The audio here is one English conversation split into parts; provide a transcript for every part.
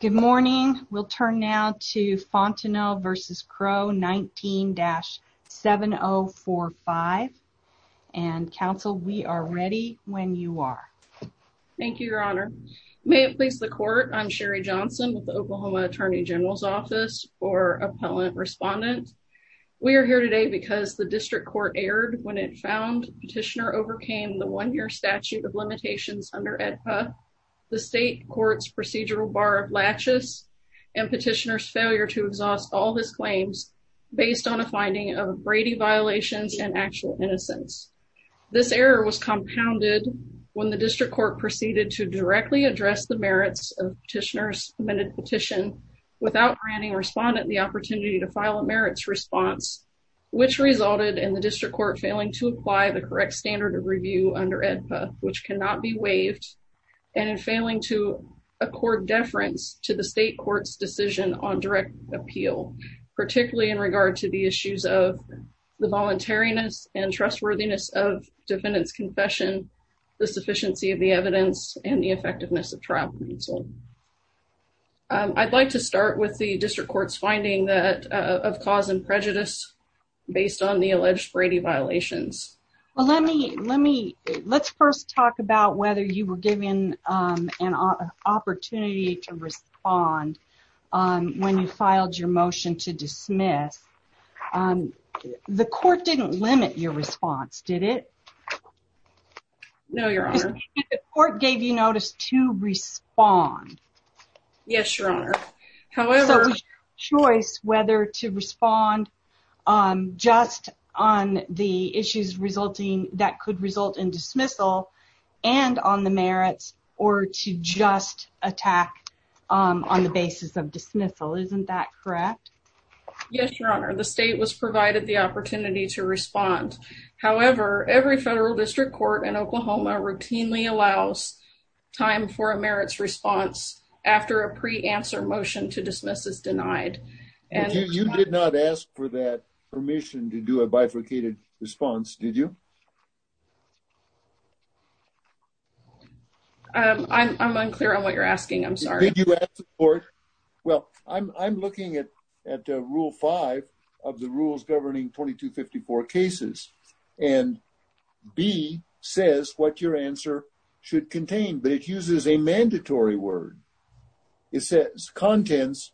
Good morning. We'll turn now to Fontenot v. Crow 19-7045. And Council, we are ready when you are. Thank you, Your Honor. May it please the Court, I'm Sherry Johnson with the Oklahoma Attorney General's Office for Appellant Respondent. We are here today because the District Court erred when it found Petitioner overcame the one-year statute of limitations under AEDPA. The state court's procedural bar of latches and Petitioner's failure to exhaust all his claims based on a finding of Brady violations and actual innocence. This error was compounded when the District Court proceeded to directly address the merits of Petitioner's submitted petition without granting Respondent the opportunity to file a merits response, which resulted in the District Court failing to apply the correct standard of review under AEDPA, which cannot be waived, and in failing to accord deference to the state court's decision on direct appeal, particularly in regard to the issues of the voluntariness and trustworthiness of defendant's confession, the sufficiency of the evidence, and the effectiveness of trial counsel. I'd like to start with the District Court's finding that of cause and prejudice based on the alleged Brady violations. Well, let me let me let's first talk about whether you were given an opportunity to respond when you filed your motion to dismiss. The court didn't limit your response, did it? No, your honor. The court gave you notice to respond. Yes, your honor. However, it was your choice whether to respond just on the issues resulting that could result in dismissal and on the merits or to just attack on the basis of dismissal. Isn't that correct? Yes, your honor. The state was provided the opportunity to respond. However, every federal district court in Oklahoma routinely allows time for a merits response after a pre-answer motion to dismiss is denied. And you did not ask for that permission to do a response, did you? I'm unclear on what you're asking. I'm sorry. Well, I'm looking at at Rule 5 of the rules governing 2254 cases and B says what your answer should contain, but it uses a mandatory word. It says contents.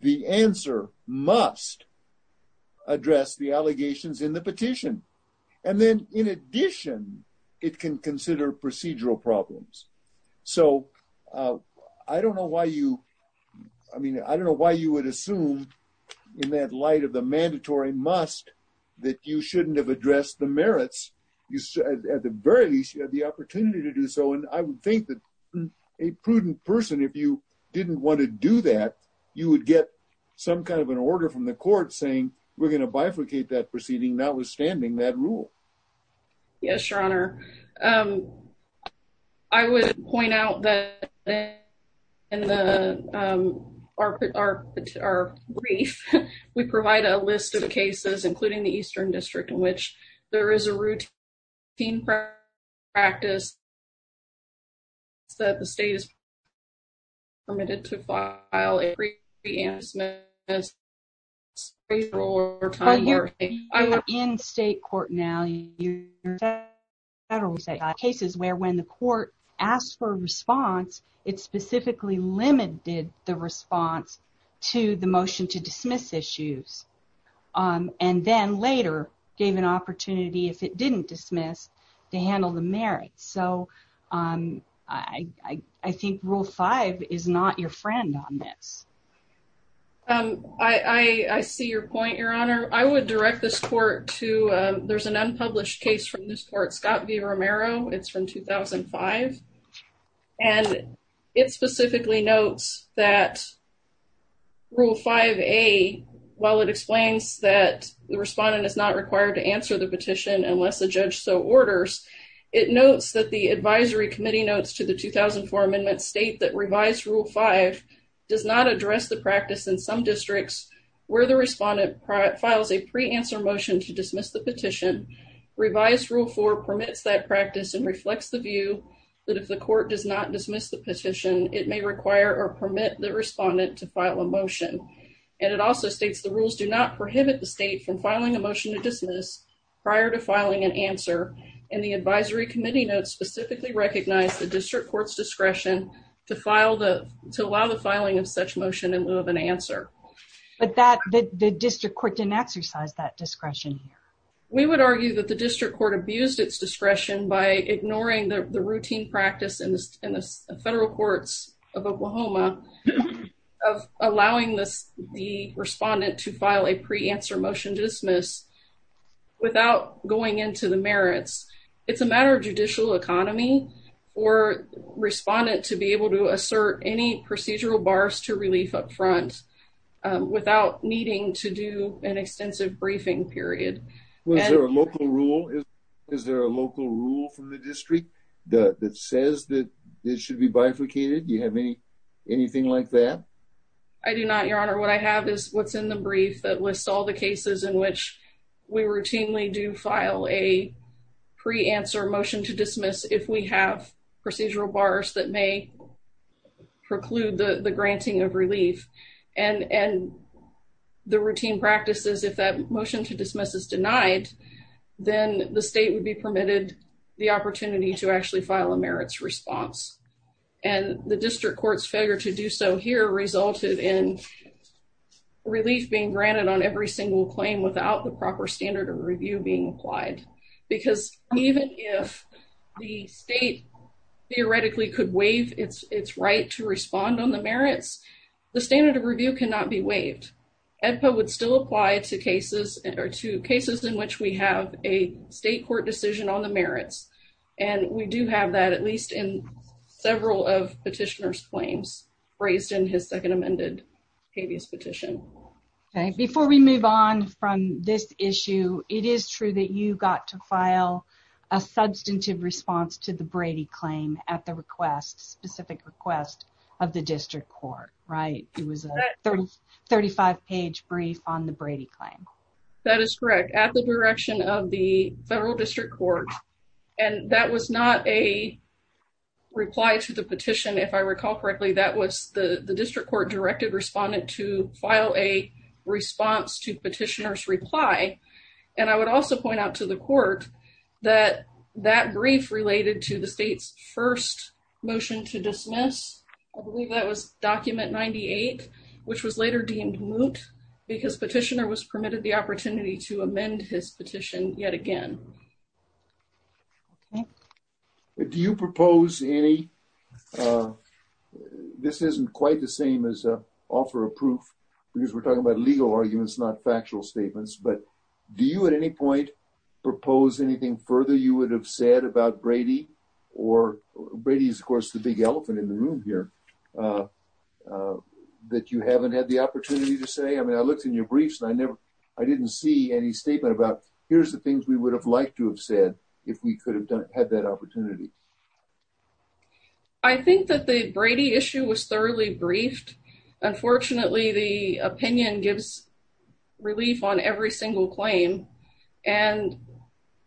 The answer must address the allegations in the petition. And then in addition, it can consider procedural problems. So I don't know why you I mean, I don't know why you would assume in that light of the mandatory must that you shouldn't have addressed the merits. You said at the very least, you had the opportunity to do so. And I would think that a prudent person, if you didn't want to do that, you would get some kind of an order from the court saying we're going to bifurcate that proceeding, notwithstanding that rule. Yes, your honor. I would point out that in our brief, we provide a list of cases, including the Eastern District, in which there is a routine practice that the state is permitted to file a pre-announcement. You're in state court now. You're in federal court now. There are cases where when the court asked for a response, it specifically limited the response to the motion to dismiss issues. And then later gave an opportunity if it didn't dismiss to handle the merits. So I think rule five is not your friend on this. I see your point, your honor. I would direct this court to there's an unpublished case from this court, Scott v. Romero. It's from 2005. And it specifically notes that rule 5A, while it explains that the respondent is not required to answer the petition unless the judge so orders, it notes that the advisory committee notes to the 2004 amendment state that revised rule five does not address the practice in some districts where the respondent files a pre-answer motion to dismiss the petition. Revised rule four permits that practice and reflects the view that if the court does not dismiss the petition, it may require or permit the respondent to file a motion. And it also states the rules do not prohibit the state from filing a motion to dismiss prior to filing an answer. And the advisory committee notes specifically recognize the district court's discretion to allow the filing of such motion in lieu of an answer. But the district court didn't exercise that discretion. We would argue that the district court abused its discretion by ignoring the routine practice in the federal courts of Oklahoma of allowing the respondent to file a pre-answer motion to dismiss without going into the merits. It's a matter of judicial economy for respondent to be able to Is there a local rule from the district that says that it should be bifurcated? Do you have anything like that? I do not, your honor. What I have is what's in the brief that lists all the cases in which we routinely do file a pre-answer motion to dismiss if we have procedural bars that may preclude the granting of relief. And the routine practices, if that motion to dismiss is denied, then the state would be permitted the opportunity to actually file a merits response. And the district court's failure to do so here resulted in relief being granted on every single claim without the proper standard of review being applied. Because even if the state theoretically could waive its right to respond on the merits, the standard of review cannot be waived. EDPA would still apply to cases in which we have a state court decision on the merits. And we do have that at least in several of petitioner's claims raised in his second amended habeas petition. Before we move on from this issue, it is true that you got to file a substantive response to the Brady claim at the request, request of the district court, right? It was a 30, 35 page brief on the Brady claim. That is correct. At the direction of the federal district court. And that was not a reply to the petition. If I recall correctly, that was the district court directed respondent to file a response to petitioner's reply. And I would also point out to the court that that brief related to the state's first motion to dismiss. I believe that was document 98, which was later deemed moot because petitioner was permitted the opportunity to amend his petition yet again. Do you propose any, this isn't quite the same as a offer of proof because we're talking about legal arguments, not factual statements, but do you at any point propose anything further you would have said about Brady? Or Brady is of course the big elephant in the room here that you haven't had the opportunity to say? I mean, I looked in your briefs and I never, I didn't see any statement about here's the things we would have liked to have said if we could have done it, had that opportunity. I think that the Brady issue was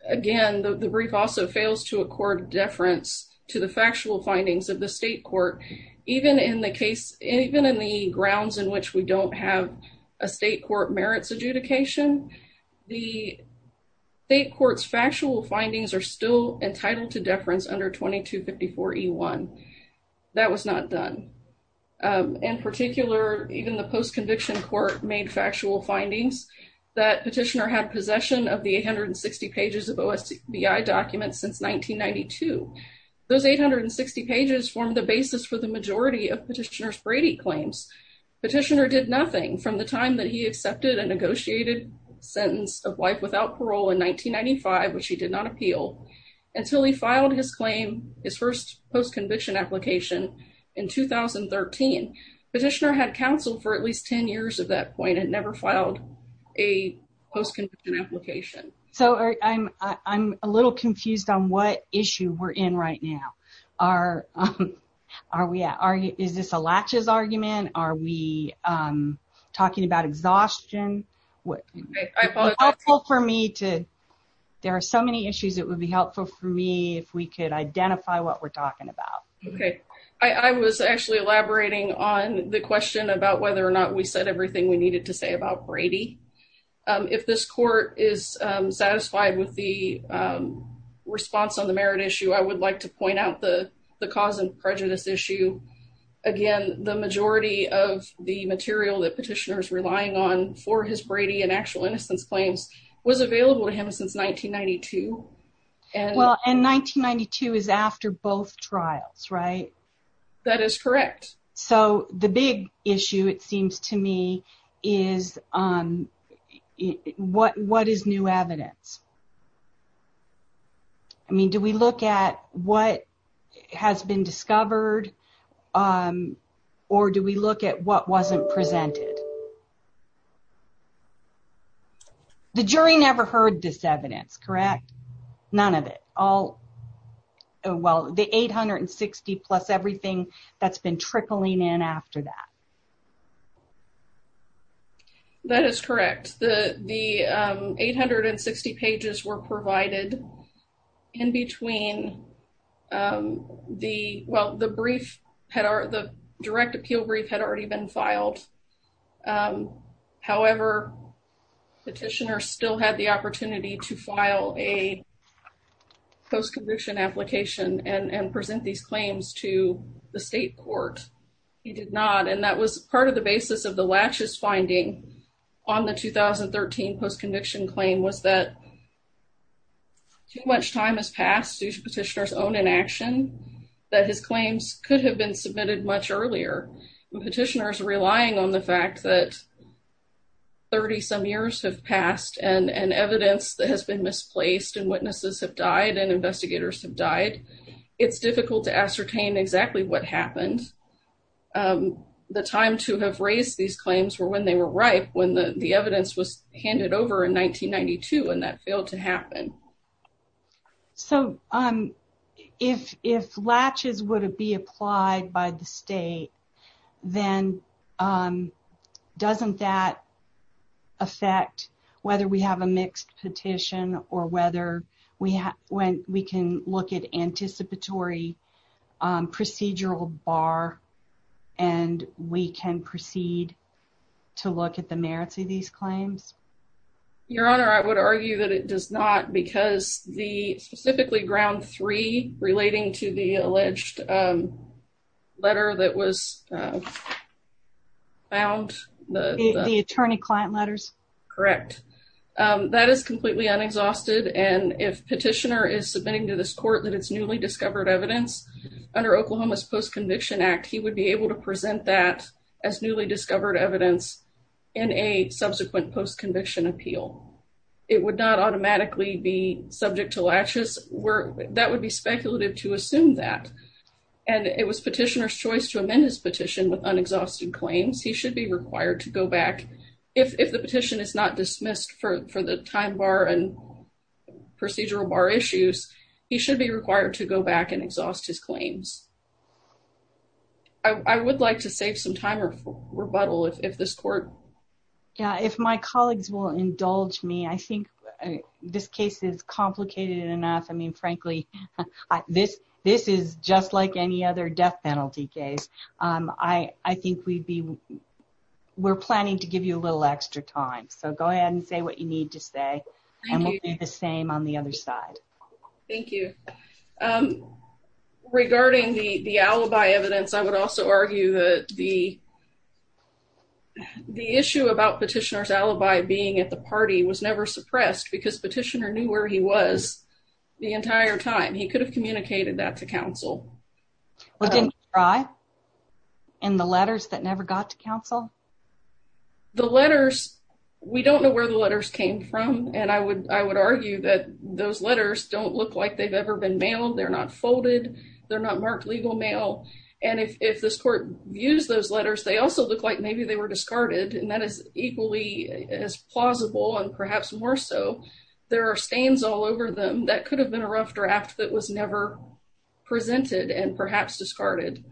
again, the brief also fails to accord deference to the factual findings of the state court. Even in the case, even in the grounds in which we don't have a state court merits adjudication, the state court's factual findings are still entitled to deference under 2254E1. That was not done. In particular, even the post conviction court made factual findings that petitioner had possession of the 860 pages of OSBI documents since 1992. Those 860 pages form the basis for the majority of petitioner's Brady claims. Petitioner did nothing from the time that he accepted a negotiated sentence of life without parole in 1995, which he did not appeal until he filed his claim, his first post conviction application in 2013. Petitioner had counsel for at least 10 years at that point and never filed a post conviction application. So I'm a little confused on what issue we're in right now. Is this a latches argument? Are we talking about exhaustion? There are so many issues that would be helpful for me if we could identify what we're talking about. Okay. I was actually elaborating on the question about whether or not we said everything we needed to say about Brady. If this court is satisfied with the response on the merit issue, I would like to point out the cause and prejudice issue. Again, the majority of the material that petitioner's relying on for his Brady and actual innocence claims was available to him since 1992. Well, and 1992 is after both trials, right? That is correct. So the big issue, it seems to me, is what is new evidence? I mean, do we look at what has been discovered or do we look at what wasn't presented? The jury never heard this evidence, correct? None of it. All, well, the 860 plus everything that's been trickling in after that. That is correct. The 860 pages were provided in between the, well, the brief, the direct appeal brief had already been filed. However, petitioner still had the opportunity to file a post-conviction application and present these claims to the state court. He did not. And that was part of the basis of the latches finding on the 2013 post-conviction claim was that too much time has passed due to petitioner's own inaction that his claims could have been petitioners relying on the fact that 30 some years have passed and evidence that has been misplaced and witnesses have died and investigators have died. It's difficult to ascertain exactly what happened. The time to have raised these claims were when they were ripe, when the evidence was handed over in 1992 and that failed to happen. So if latches would have been applied by the state, then doesn't that affect whether we have a mixed petition or whether we have, when we can look at anticipatory procedural bar and we can proceed to look at the merits of these claims? Your honor, I would argue that it does not because the specifically ground three relating to the alleged letter that was found. The attorney client letters. Correct. That is completely unexhausted. And if petitioner is submitting to this court that it's newly discovered evidence under Oklahoma's post-conviction act, he would be able to present that as newly discovered evidence in a subsequent post-conviction appeal. It would not automatically be subject to latches where that would be speculative to assume that. And it was petitioner's choice to amend his petition with unexhausted claims. He should be required to go back. If the petition is not dismissed for the time bar and procedural bar issues, he should be required to go back and exhaust his claims. I would like to save some time or rebuttal if this court. Yeah, if my colleagues will indulge me, I think this case is complicated enough. I mean, frankly, this is just like any other death penalty case. I think we'd be, we're planning to give you a little extra time. So go ahead and say what you need to say. And we'll do the same on the other side. Thank you. Regarding the alibi evidence, I would also argue that the issue about petitioner's alibi being at the party was never suppressed because petitioner knew where he was the entire time. He could have communicated that to counsel. Well, didn't he try in the letters that never got to counsel? The letters, we don't know where the letters came from. And I would argue that those letters don't look like they've ever been mailed. They're not folded. They're not marked legal mail. And if this court views those letters, they also look like maybe they were discarded. And that is equally as plausible and perhaps more so. There are stains all over them that could have been a rough draft that was never presented and perhaps discarded.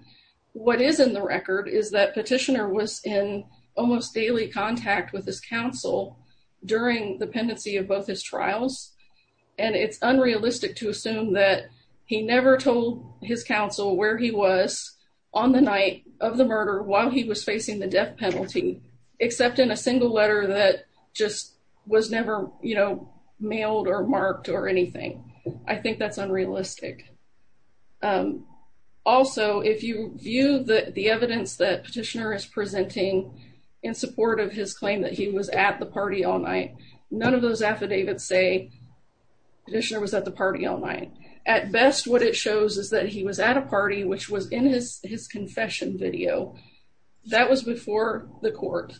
What is in the record is that petitioner was in almost daily contact with his counsel during the pendency of both his trials. And it's unrealistic to assume that he never told his counsel where he was on the night of the murder while he was facing the death penalty, except in a single letter that just was never, you know, mailed or marked or anything. I think that's unrealistic. Also, if you view the evidence that petitioner is presenting in support of his claim that he was at the party all night, none of those affidavits say petitioner was at the party all night. At best, what it shows is that he was at a party, which was in his confession video. That was before the court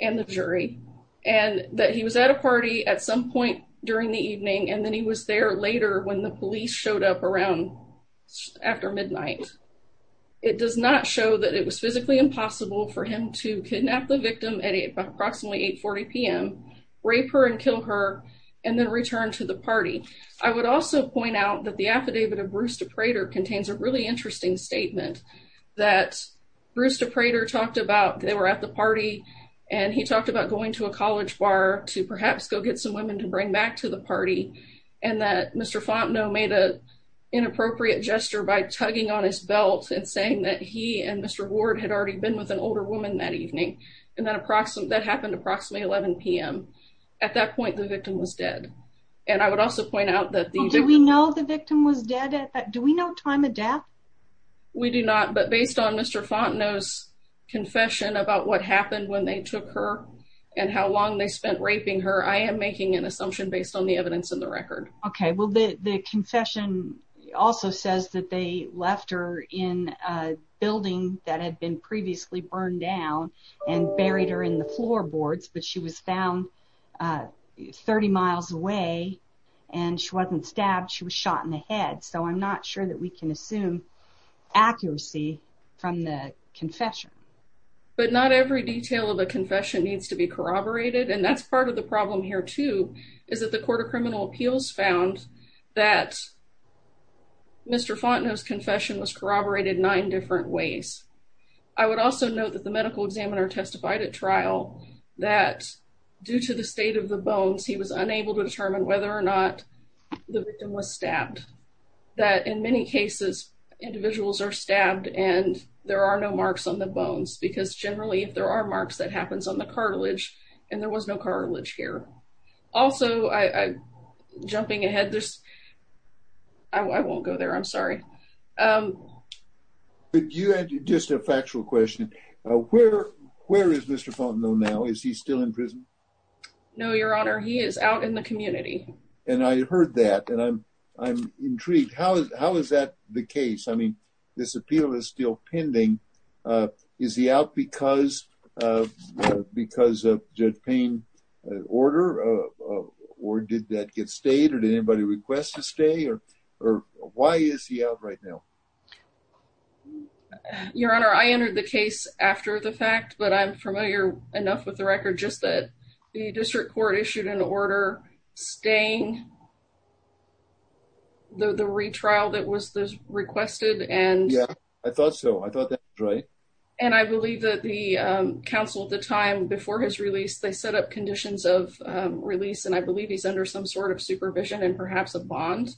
and the jury. And that he was at a party at some point during the evening. And then he was there later when the police showed up around after midnight. It does not show that it was physically impossible for him to kidnap the victim at approximately 8.40 p.m., rape her and kill her, and then return to the party. I would also point out that the affidavit of Brewster Prater contains a really interesting statement that Brewster Prater talked about they were at the party and he talked about going to a college bar to perhaps go get women to bring back to the party. And that Mr. Fontenot made an inappropriate gesture by tugging on his belt and saying that he and Mr. Ward had already been with an older woman that evening. And that happened approximately 11 p.m. At that point, the victim was dead. And I would also point out that... Do we know the victim was dead? Do we know time of death? We do not. But based on Mr. Fontenot's confession about what happened when they took her and how long they spent raping her, I am making an assumption based on the evidence in the record. Okay. Well, the confession also says that they left her in a building that had been previously burned down and buried her in the floorboards, but she was found 30 miles away and she wasn't stabbed. She was shot in the head. So, I'm not sure that we can assume accuracy from the confession. But not every detail of a confession needs to be corroborated. And that's part of the problem here, too, is that the Court of Criminal Appeals found that Mr. Fontenot's confession was corroborated nine different ways. I would also note that the medical examiner testified at trial that due to the state of the bones, he was unable to determine whether or not the victim was stabbed. That in many cases, individuals are stabbed and there are no marks on the bones because generally, if there are marks, that happens on the cartilage and there was no cartilage here. Also, jumping ahead, I won't go there. I'm sorry. But you had just a factual question. Where is Mr. Fontenot now? Is he still in prison? No, Your Honor. He is out in the community. And I heard that and I'm intrigued. How is that the case? I mean, this appeal is still pending. Is he out because of Judge Payne's order? Or did that get stayed? Or did anybody request to stay? Or why is he out right now? Your Honor, I entered the case after the fact, but I'm familiar enough with the record just that the district court issued an order staying the retrial that was requested. Yeah, I thought so. I thought that was right. And I believe that the counsel at the time before his release, they set up conditions of release and I believe he's under some sort of supervision and perhaps a bond.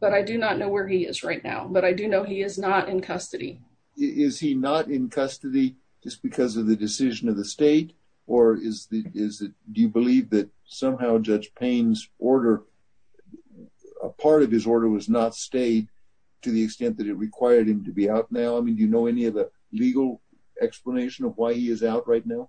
But I do not know where he is right now. But I do know he is not in custody. Is he not in custody just because of the decision of the state? Or do you believe that somehow Judge Payne's order, a part of his order was not stayed to the extent that it required him to be out now? I mean, do you know any of the legal explanation of why he is out right now?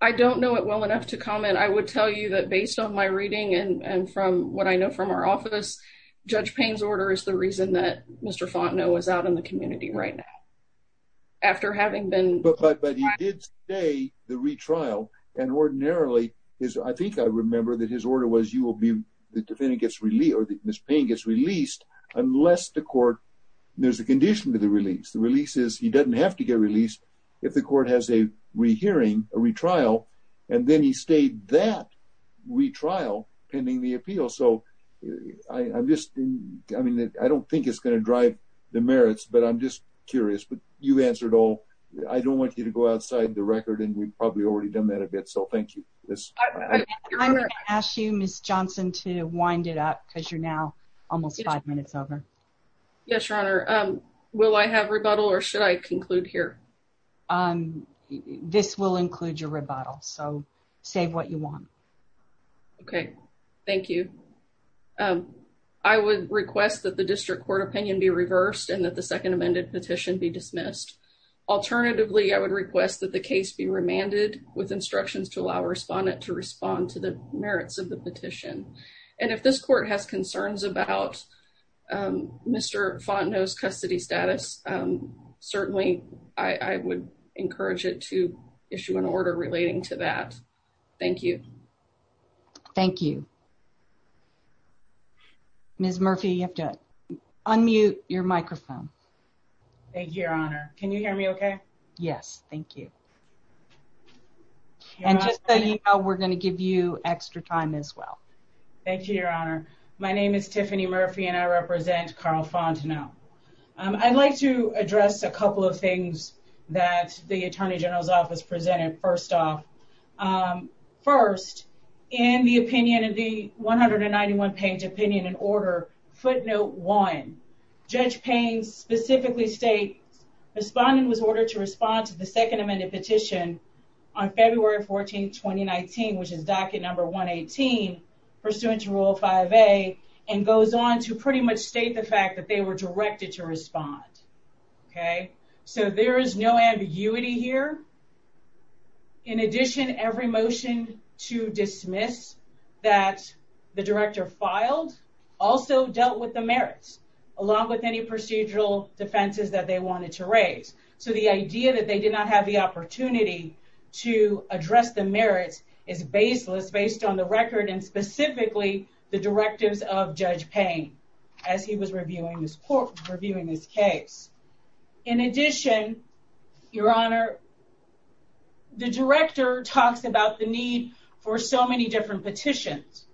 I don't know it well enough to comment. I would tell you that based on my reading and from what I know from our office, Judge Payne's order is the reason that Mr. Fontenot was out in the community right now. After having been... But he did stay the retrial and ordinarily, I think I remember that his order was you will be, the defendant gets released or Ms. Payne gets released unless the court, there's a condition to the release. The release is he doesn't have to get released if the court has a re-hearing, a retrial, and then he stayed that retrial pending the appeal. So I'm I mean, I don't think it's going to drive the merits, but I'm just curious, but you've answered all. I don't want you to go outside the record and we've probably already done that a bit. So thank you. I'm going to ask you Ms. Johnson to wind it up because you're now almost five minutes over. Yes, Your Honor. Will I have rebuttal or should I conclude here? This will include your rebuttal. So save what you want. Okay. Thank you. I would request that the district court opinion be reversed and that the second amended petition be dismissed. Alternatively, I would request that the case be remanded with instructions to allow a respondent to respond to the merits of the petition. And if this court has concerns about Mr. Fontenot's custody status, certainly I would encourage it to issue an order relating to that. Thank you. Thank you. Ms. Murphy, you have to unmute your microphone. Thank you, Your Honor. Can you hear me okay? Yes. Thank you. And just so you know, we're going to give you extra time as well. Thank you, Your Honor. My name is Tiffany Murphy and I represent Carl Fontenot. I'd like to address a couple of things that the Attorney General's Office presented first off. First, in the opinion of the 191 page opinion and order, footnote one, Judge Payne specifically states respondent was ordered to respond to the second amended petition on February 14, 2019, which is docket number 118 pursuant to rule 5A and goes on to pretty much state the fact that they were directed to respond. Okay, so there is no ambiguity here. In addition, every motion to dismiss that the director filed also dealt with the merits along with any procedural defenses that they wanted to raise. So the idea that they did not have the opportunity to address the merits is baseless based on the record and specifically the directives of Judge Payne as he was reviewing this case. In addition, Your Honor, the director talks about the need for so many different petitions.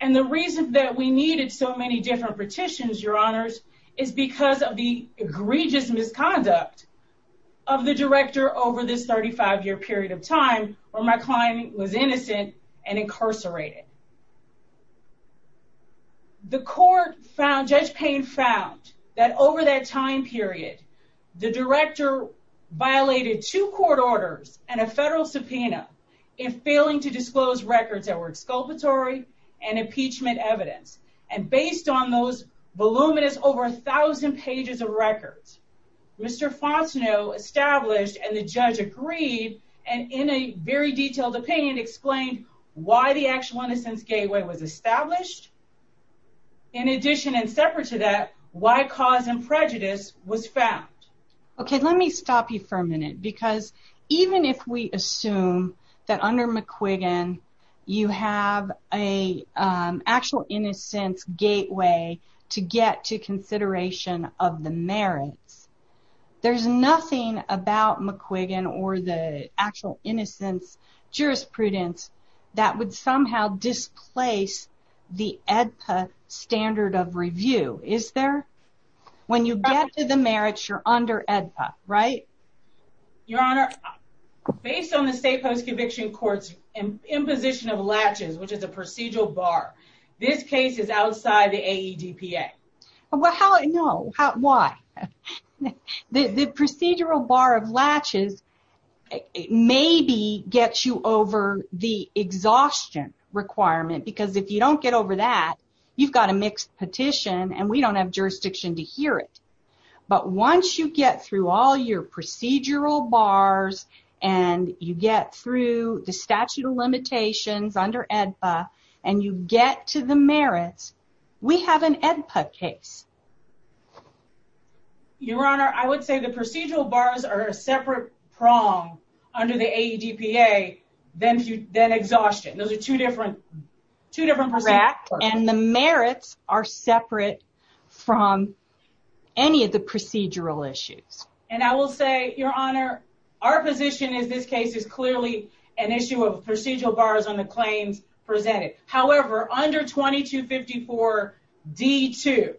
And the reason that we needed so many different petitions, Your Honors, is because of the egregious misconduct of the director over this 35 year period of time where my client was innocent and incarcerated. The court found, Judge Payne found, that over that time period, the director violated two court orders and a federal subpoena in failing to disclose records that were exculpatory and impeachment evidence. And based on those voluminous over a thousand pages of records, Mr. Fosno established and the judge agreed and in a very detailed opinion explained why the actual innocence gateway was established. In addition and separate to that, why cause and prejudice was found. Okay, let me stop you for a minute because even if we assume that under McQuiggan you have a actual innocence gateway to get to consideration of the merits, there's nothing about McQuiggan or the actual innocence jurisprudence that would somehow displace the AEDPA standard of review, is there? When you get to the merits, you're under AEDPA, right? Your Honor, based on the state post-conviction courts and imposition of latches, which is a procedural bar, this case is outside the AEDPA. No, why? The procedural bar of latches maybe gets you over the exhaustion requirement because if you don't get over that, you've got a mixed petition and we don't have jurisdiction to hear it. But once you get through all your procedural bars and you get through the statute of limitations under AEDPA and you get to the merits, we have an AEDPA case. Your Honor, I would say the procedural bars are a separate prong under the AEDPA than exhaustion. Those are two different procedures. Correct, and the merits are separate from any of the procedural issues. And I will say, Your Honor, our position is this case is clearly an issue of procedural bars on the claims presented. However, under 2254 D.2,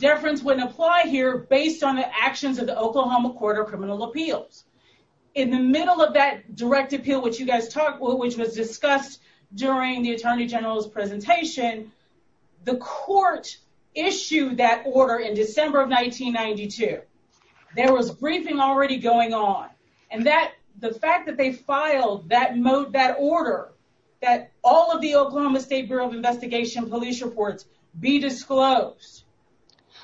deference wouldn't apply here based on the actions of the Oklahoma Court of Criminal Appeals. In the middle of that direct appeal, which you guys talked about, which was discussed during the Attorney General's presentation, the court issued that order in December of 1992. There was a briefing already going on. And the fact that they filed that order, that all of the Oklahoma State Bureau of Investigation police reports be disclosed.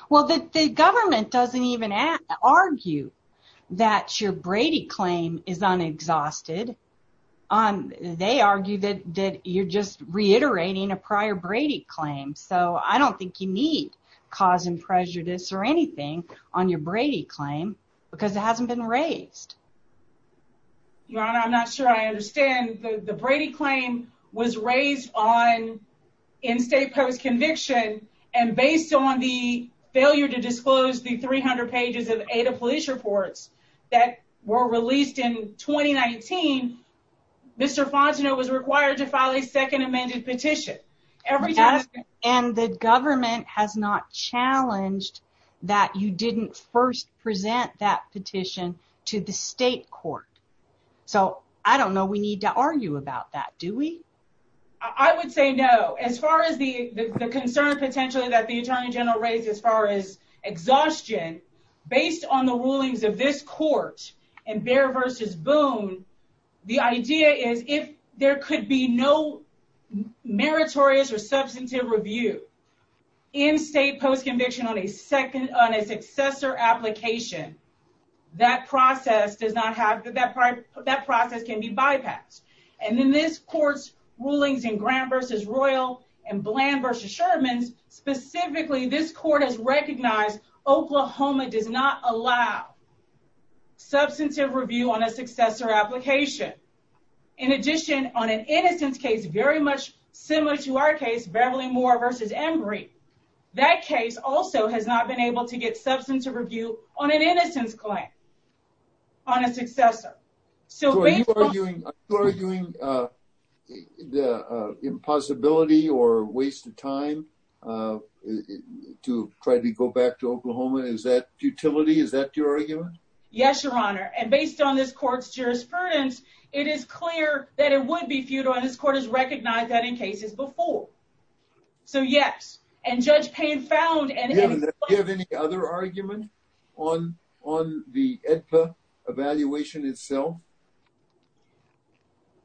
Well, the government doesn't even argue that your Brady claim is unexhausted. They argue that you're just reiterating a prior Brady claim. So I don't think you need cause and prejudice or anything on your Brady claim because it hasn't been raised. Your Honor, I'm not sure I understand. The Brady claim was raised in state post-conviction and based on the failure to disclose the 300 pages of AEDA police reports that were released in 2019, Mr. Fongeno was required to file a second amended petition. Every time. And the government has not challenged that you didn't first present that petition to the state court. So I don't know, we need to argue about that, do we? I would say no. As far as the concern potentially that the Attorney General raised as far as exhaustion, based on the rulings of this court and Behr v. Boone, the idea is if there could be no meritorious or substantive review in state post-conviction on a successor application, that process can be bypassed. And in this court's rulings in Graham v. Royal and Bland v. Sherman, specifically this court has recognized Oklahoma does not allow substantive review on a successor application. In addition, on an innocence case very much similar to our case, Beverly Moore v. Embry, that case also has not been able to get substantive review on an innocence claim on a successor. So- So are you arguing the impossibility or waste of time to try to go back to Oklahoma? Is that futility? Is that your argument? Yes, Your Honor. And based on this court's jurisprudence, it is clear that it would be futile and this court has recognized that in cases before. So yes. And Judge Payne found- Do you have any other argument on the AEDPA evaluation itself?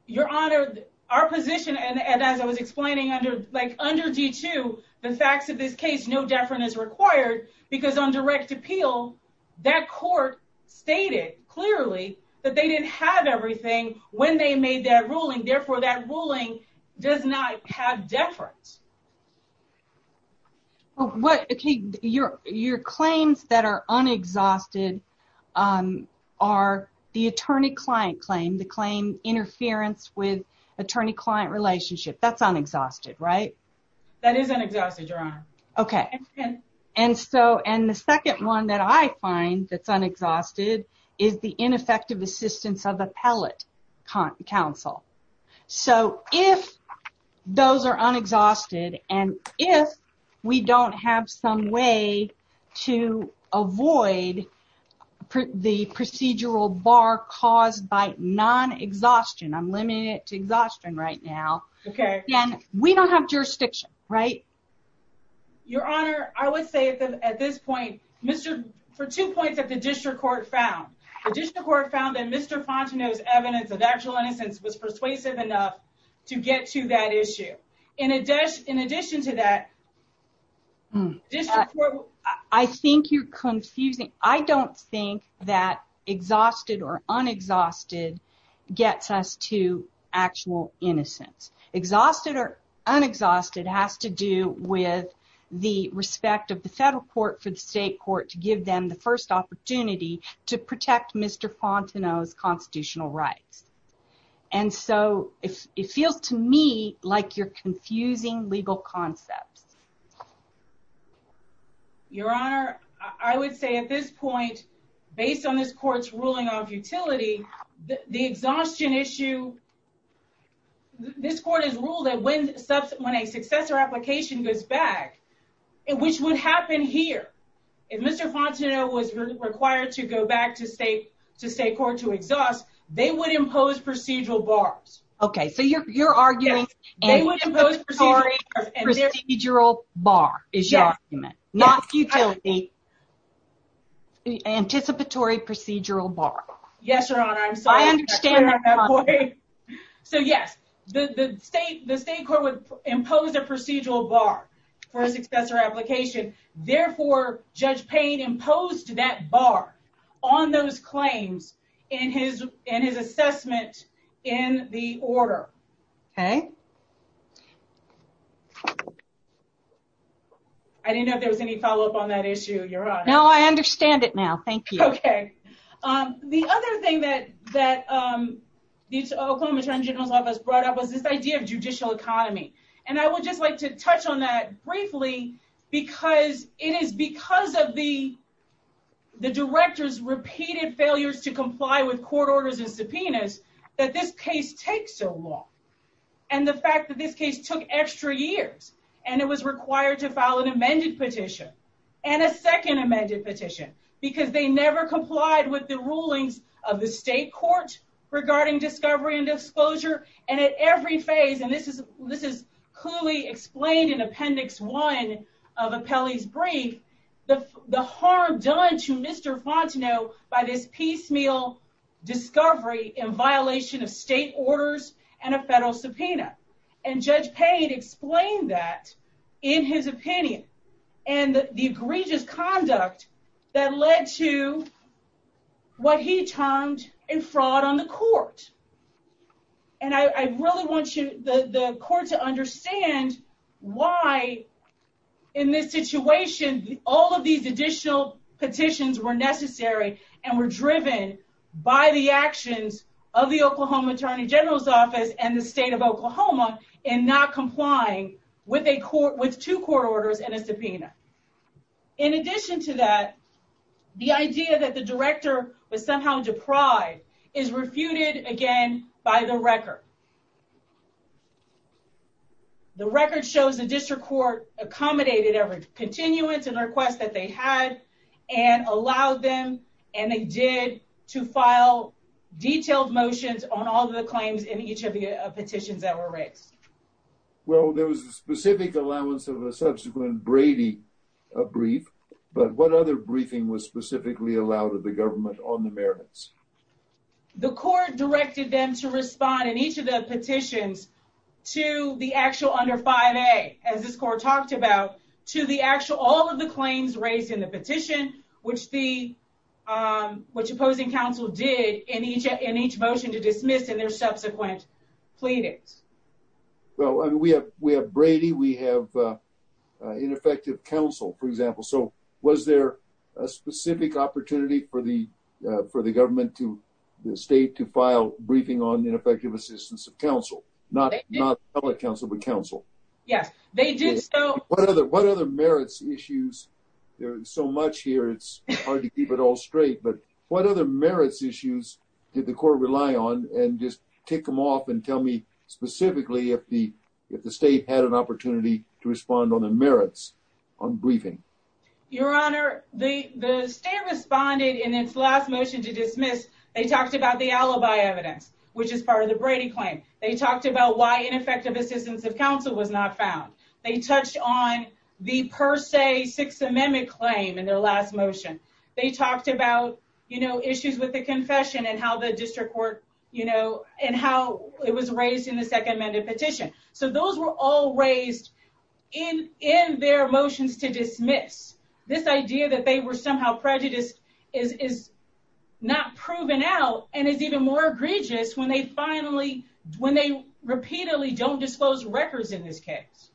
Your Honor, our position, and as I was explaining under D2, the facts of this case, no deference is required because on direct appeal, that court stated clearly that they didn't have everything when they made that ruling. Therefore, that ruling does not have deference. Your claims that are unexhausted are the attorney-client claim, the claim interference with attorney-client relationship. That's unexhausted, right? That is unexhausted, Your Honor. And the second one that I find that's unexhausted is the ineffective assistance of appellate counsel. So if those are unexhausted and if we don't have some way to avoid the procedural bar caused by non-exhaustion, I'm limiting it to exhaustion right now, then we don't have jurisdiction, right? Your Honor, I would say at this point, for two points that the district court found, the district court found that Mr. Fontenot's evidence of actual innocence was persuasive enough to get to that issue. In addition to that, district court- I think you're confusing- I don't think that exhausted or unexhausted gets us to actual innocence. Exhausted or unexhausted has to do with the respect of the federal court for the state court to give them the first opportunity to protect Mr. Fontenot's constitutional rights. And so it feels to me like you're confusing legal concepts. Your Honor, I would say at this point, based on this court's ruling on futility, the exhaustion issue- this court has ruled that when a successor application goes back, which would happen here, if Mr. Fontenot was required to go back to state court to exhaust, they would impose procedural bars. Okay, so you're arguing- Yes, they would impose procedural- Procedural bar is your argument. Not futility. Anticipatory procedural bar. Yes, Your Honor. I understand that. So yes, the state court would impose a procedural bar for a successor application. Therefore, Judge Payne imposed that bar on those claims in his assessment in the order. I didn't know if there was any follow-up on that issue, Your Honor. No, I understand it now. Thank you. Okay. The other thing that the Oklahoma Attorney General's Office brought up was this idea of that because of the director's repeated failures to comply with court orders and subpoenas, that this case takes so long. And the fact that this case took extra years, and it was required to file an amended petition, and a second amended petition, because they never complied with the rulings of the state court regarding discovery and disclosure, and at every phase, and this is clearly explained in Appendix 1 of Apelli's brief, the harm done to Mr. Fontenot by this piecemeal discovery in violation of state orders and a federal subpoena. And Judge Payne explained that in his opinion, and the egregious conduct that led to what he termed a fraud on the court. And I really want the court to understand why in this situation, all of these additional petitions were necessary and were driven by the actions of the Oklahoma Attorney General's Office and the state of Oklahoma in not complying with two court orders and a subpoena. In addition to that, the idea that the director was somehow deprived is refuted again by the record. The record shows the district court accommodated every continuance and request that they had and allowed them, and they did, to file detailed motions on all the claims in each of the petitions. Well, there was a specific allowance of a subsequent Brady brief, but what other briefing was specifically allowed of the government on the merits? The court directed them to respond in each of the petitions to the actual under 5A, as this court talked about, to all of the claims raised in the petition, which the opposing counsel did in each motion to dismiss in their subsequent pleadings. Well, I mean, we have Brady, we have ineffective counsel, for example. So, was there a specific opportunity for the government to the state to file briefing on ineffective assistance of counsel, not public counsel, but counsel? Yes, they did. What other merits issues? There's so much here, it's hard to keep it all straight. But what other merits issues did the court rely on? And just take them off and tell me specifically if the state had an opportunity to respond on the merits on briefing? Your Honor, the state responded in its last motion to dismiss, they talked about the alibi evidence, which is part of the Brady claim. They talked about why ineffective assistance of counsel was not found. They touched on the per se Sixth Amendment claim in their last motion. They talked about, you know, issues with the confession and how the district court, you know, and how it was raised in the Second Amendment petition. So those were all raised in their motions to dismiss. This idea that they were somehow prejudiced is not proven out and is even more egregious when they finally, when they repeatedly don't disclose records in this case.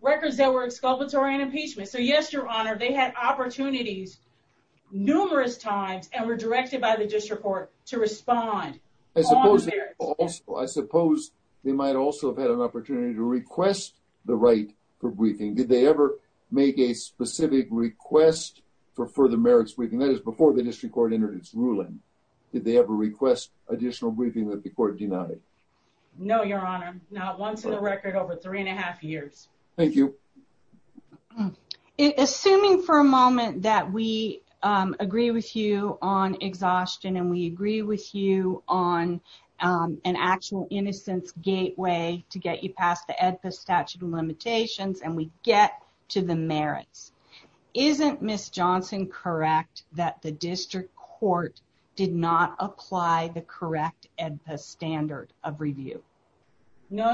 Records that were exculpatory and impeachment. So yes, Your Honor, they had opportunities numerous times and were directed by the district court to respond. I suppose they might also have had an opportunity to request the right for briefing. Did they ever make a specific request for further merits briefing? That is before the district court entered its ruling. Did they ever request additional briefing that the court denied? No, Your Honor. Not once in a record over three and a half years. Thank you. Assuming for a moment that we agree with you on exhaustion and we agree with you on an actual innocence gateway to get you past the EDPA statute of limitations and we get to the merits. Isn't Miss Johnson correct that the district court did not apply the correct EDPA standard of review? No,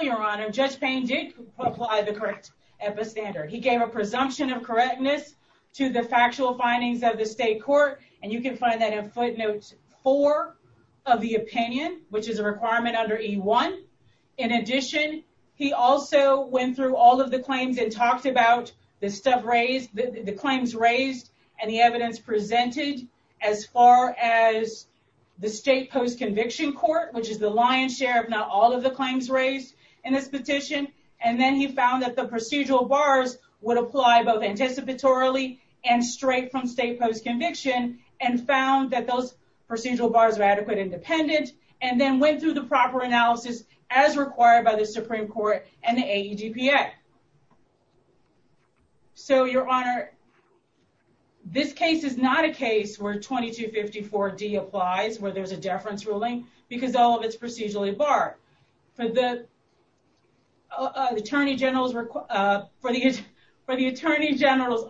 Your Honor. Judge Payne did apply the correct EDPA standard. He gave a presumption of correctness to the factual findings of the state court and you can find that in footnotes four of the opinion, which is a requirement under E1. In addition, he also went through all of the claims and talked about the stuff raised, the claims raised and the evidence presented as far as the state post-conviction court, which is the lion's share of not all of the claims raised in this petition. And then he found that the procedural bars would apply both anticipatorily and straight from state post-conviction and found that those procedural bars are adequate independent and then went through the proper analysis as required by the Supreme Court and the where 2254D applies where there's a deference ruling because all of it's procedurally barred. For the Attorney General's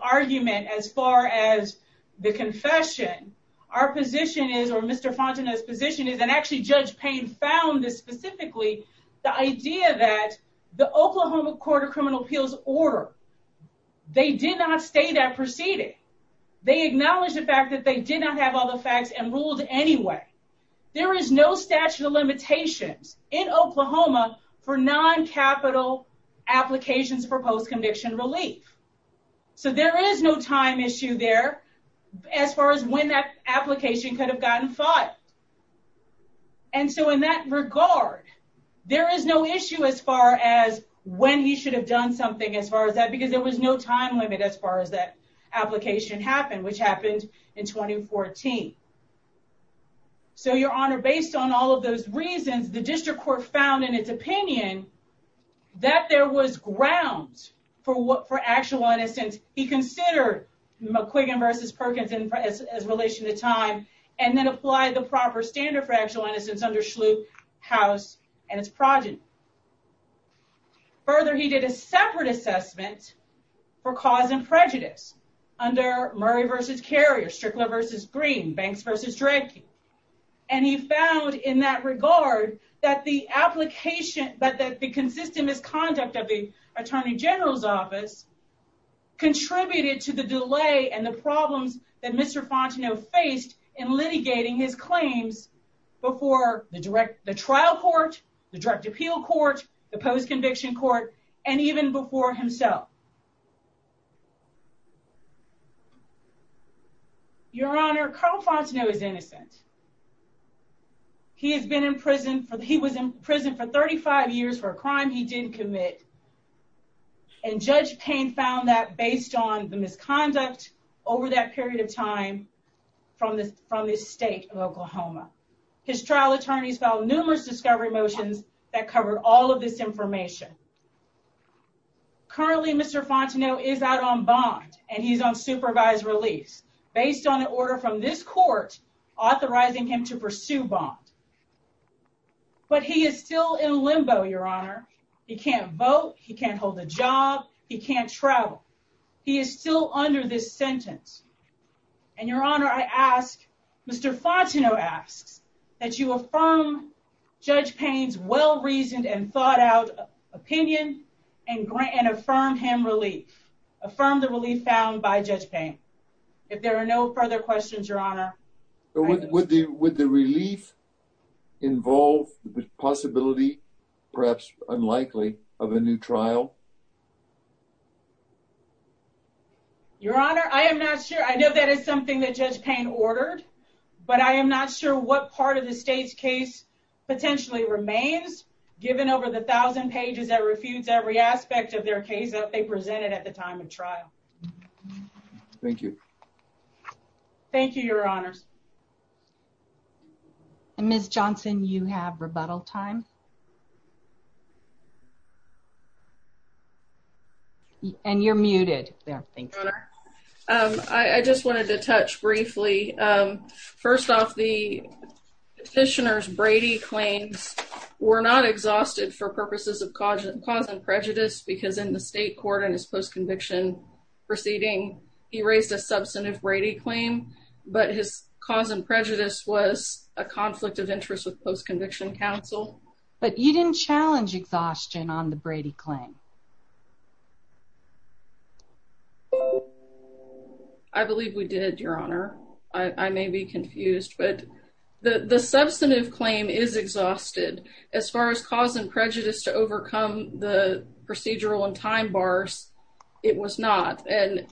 argument as far as the confession, our position is, or Mr. Fontenot's position is, and actually Judge Payne found this specifically, the idea that the Oklahoma Court of Criminal Appeals order, they did not state that did not have all the facts and ruled anyway. There is no statute of limitations in Oklahoma for non-capital applications for post-conviction relief. So there is no time issue there as far as when that application could have gotten filed. And so in that regard, there is no issue as far as when he should have done something as far as that because there was no time limit as far as that application happened, which happened in 2014. So Your Honor, based on all of those reasons, the District Court found in its opinion that there was ground for actual innocence. He considered McQuiggan v. Perkins in relation to time and then applied the proper standard for actual innocence under Schlute, House, and its progeny. Further, he did a separate assessment for cause and prejudice under Murray v. Carrier, Strickler v. Green, Banks v. Dredke, and he found in that regard that the application, that the consistent misconduct of the Attorney General's office contributed to the delay and the problems that Mr. Fontenot faced in litigating his claims before the trial court, the direct appeal court, the post-conviction court, and even before himself. Your Honor, Carl Fontenot is innocent. He has been in prison for, he was in prison for 35 years for a crime he didn't commit, and Judge Payne found that based on the misconduct over that period of time from this from this state of Oklahoma. His trial attorneys filed numerous discovery motions that covered all of this information. Currently, Mr. Fontenot is out on bond, and he's on supervised release based on an order from this court authorizing him to pursue bond. But he is still in limbo, Your Honor. He can't vote. He can't hold a job. He can't travel. He is still under this sentence, and Your Honor, I ask, Mr. Fontenot asks that you affirm Judge Payne's well-reasoned and thought-out opinion and affirm him relief. Affirm the relief found by Judge Payne. If there are no further questions, Your Honor. Would the relief involve the possibility, perhaps unlikely, of a new trial? Your Honor, I am not sure. I know that is something that Judge Payne ordered, but I am not sure what part of the state's case potentially remains given over the thousand pages that refutes every aspect of their case that they presented at the time of trial. Thank you. Thank you, Your Honors. And Ms. Johnson, you have rebuttal time. And you're muted there. Thank you. Your Honor, I just wanted to touch briefly. First off, the petitioner's Brady claims were not exhausted for purposes of cause and prejudice because in the state court in his post-conviction proceeding, he raised a substantive Brady claim, but his cause and prejudice was a conflict of interest with post-conviction counsel. But you didn't challenge exhaustion on the Brady claim. I believe we did, Your Honor. I may be confused, but the substantive claim is exhausted. As far as cause and prejudice to overcome the procedural and time bars, it was not. And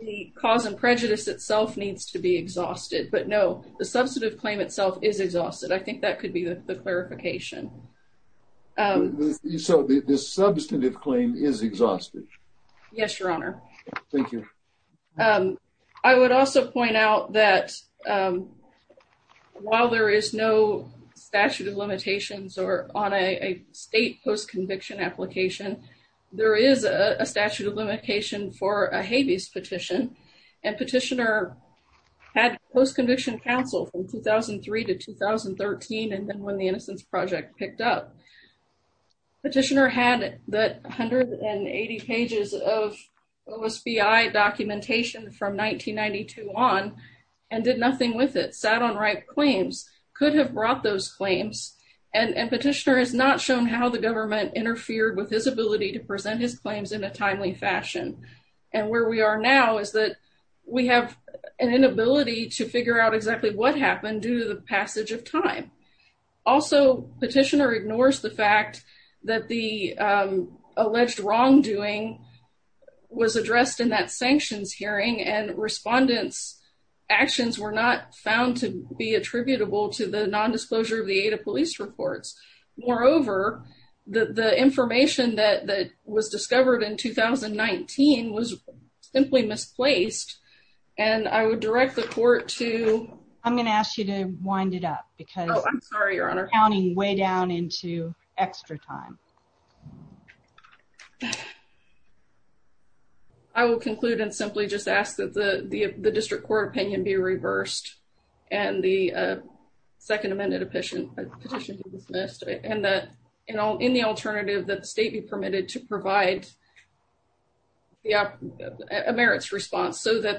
the cause and prejudice itself needs to be exhausted. But no, the substantive claim itself is exhausted. I think that could be the clarification. So the substantive claim is exhausted. Yes, Your Honor. Thank you. I would also point out that while there is no statute of limitations on a state post-conviction application, there is a statute of limitation for a habeas petition. And petitioner had post-conviction counsel from 2003 to 2013 and then when the Innocence Project picked up. Petitioner had the 180 pages of OSBI documentation from 1992 on and did nothing with it, sat on right claims, could have brought those claims. And petitioner has not shown how the government interfered with his ability to present his claims in a timely fashion. And where we are now is that we have an inability to figure out exactly what happened due to the passage of time. Also, petitioner ignores the fact that the alleged wrongdoing was addressed in that sanctions hearing and respondents' actions were not found to be attributable to the non-disclosure of the aid of police reports. Moreover, the information that was discovered in 2019 was simply misplaced and I would direct the court to. I'm going to ask you to wind it up because. Oh, I'm sorry, Your Honor. Counting way down into extra time. I will conclude and simply just ask that the district court opinion be reversed and the second amended petition be dismissed and that in the alternative that the state be permitted to that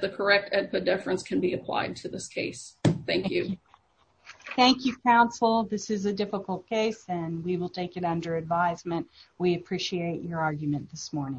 the correct at the difference can be applied to this case. Thank you. Thank you, counsel. This is a difficult case and we will take it under advisement. We appreciate your argument this morning.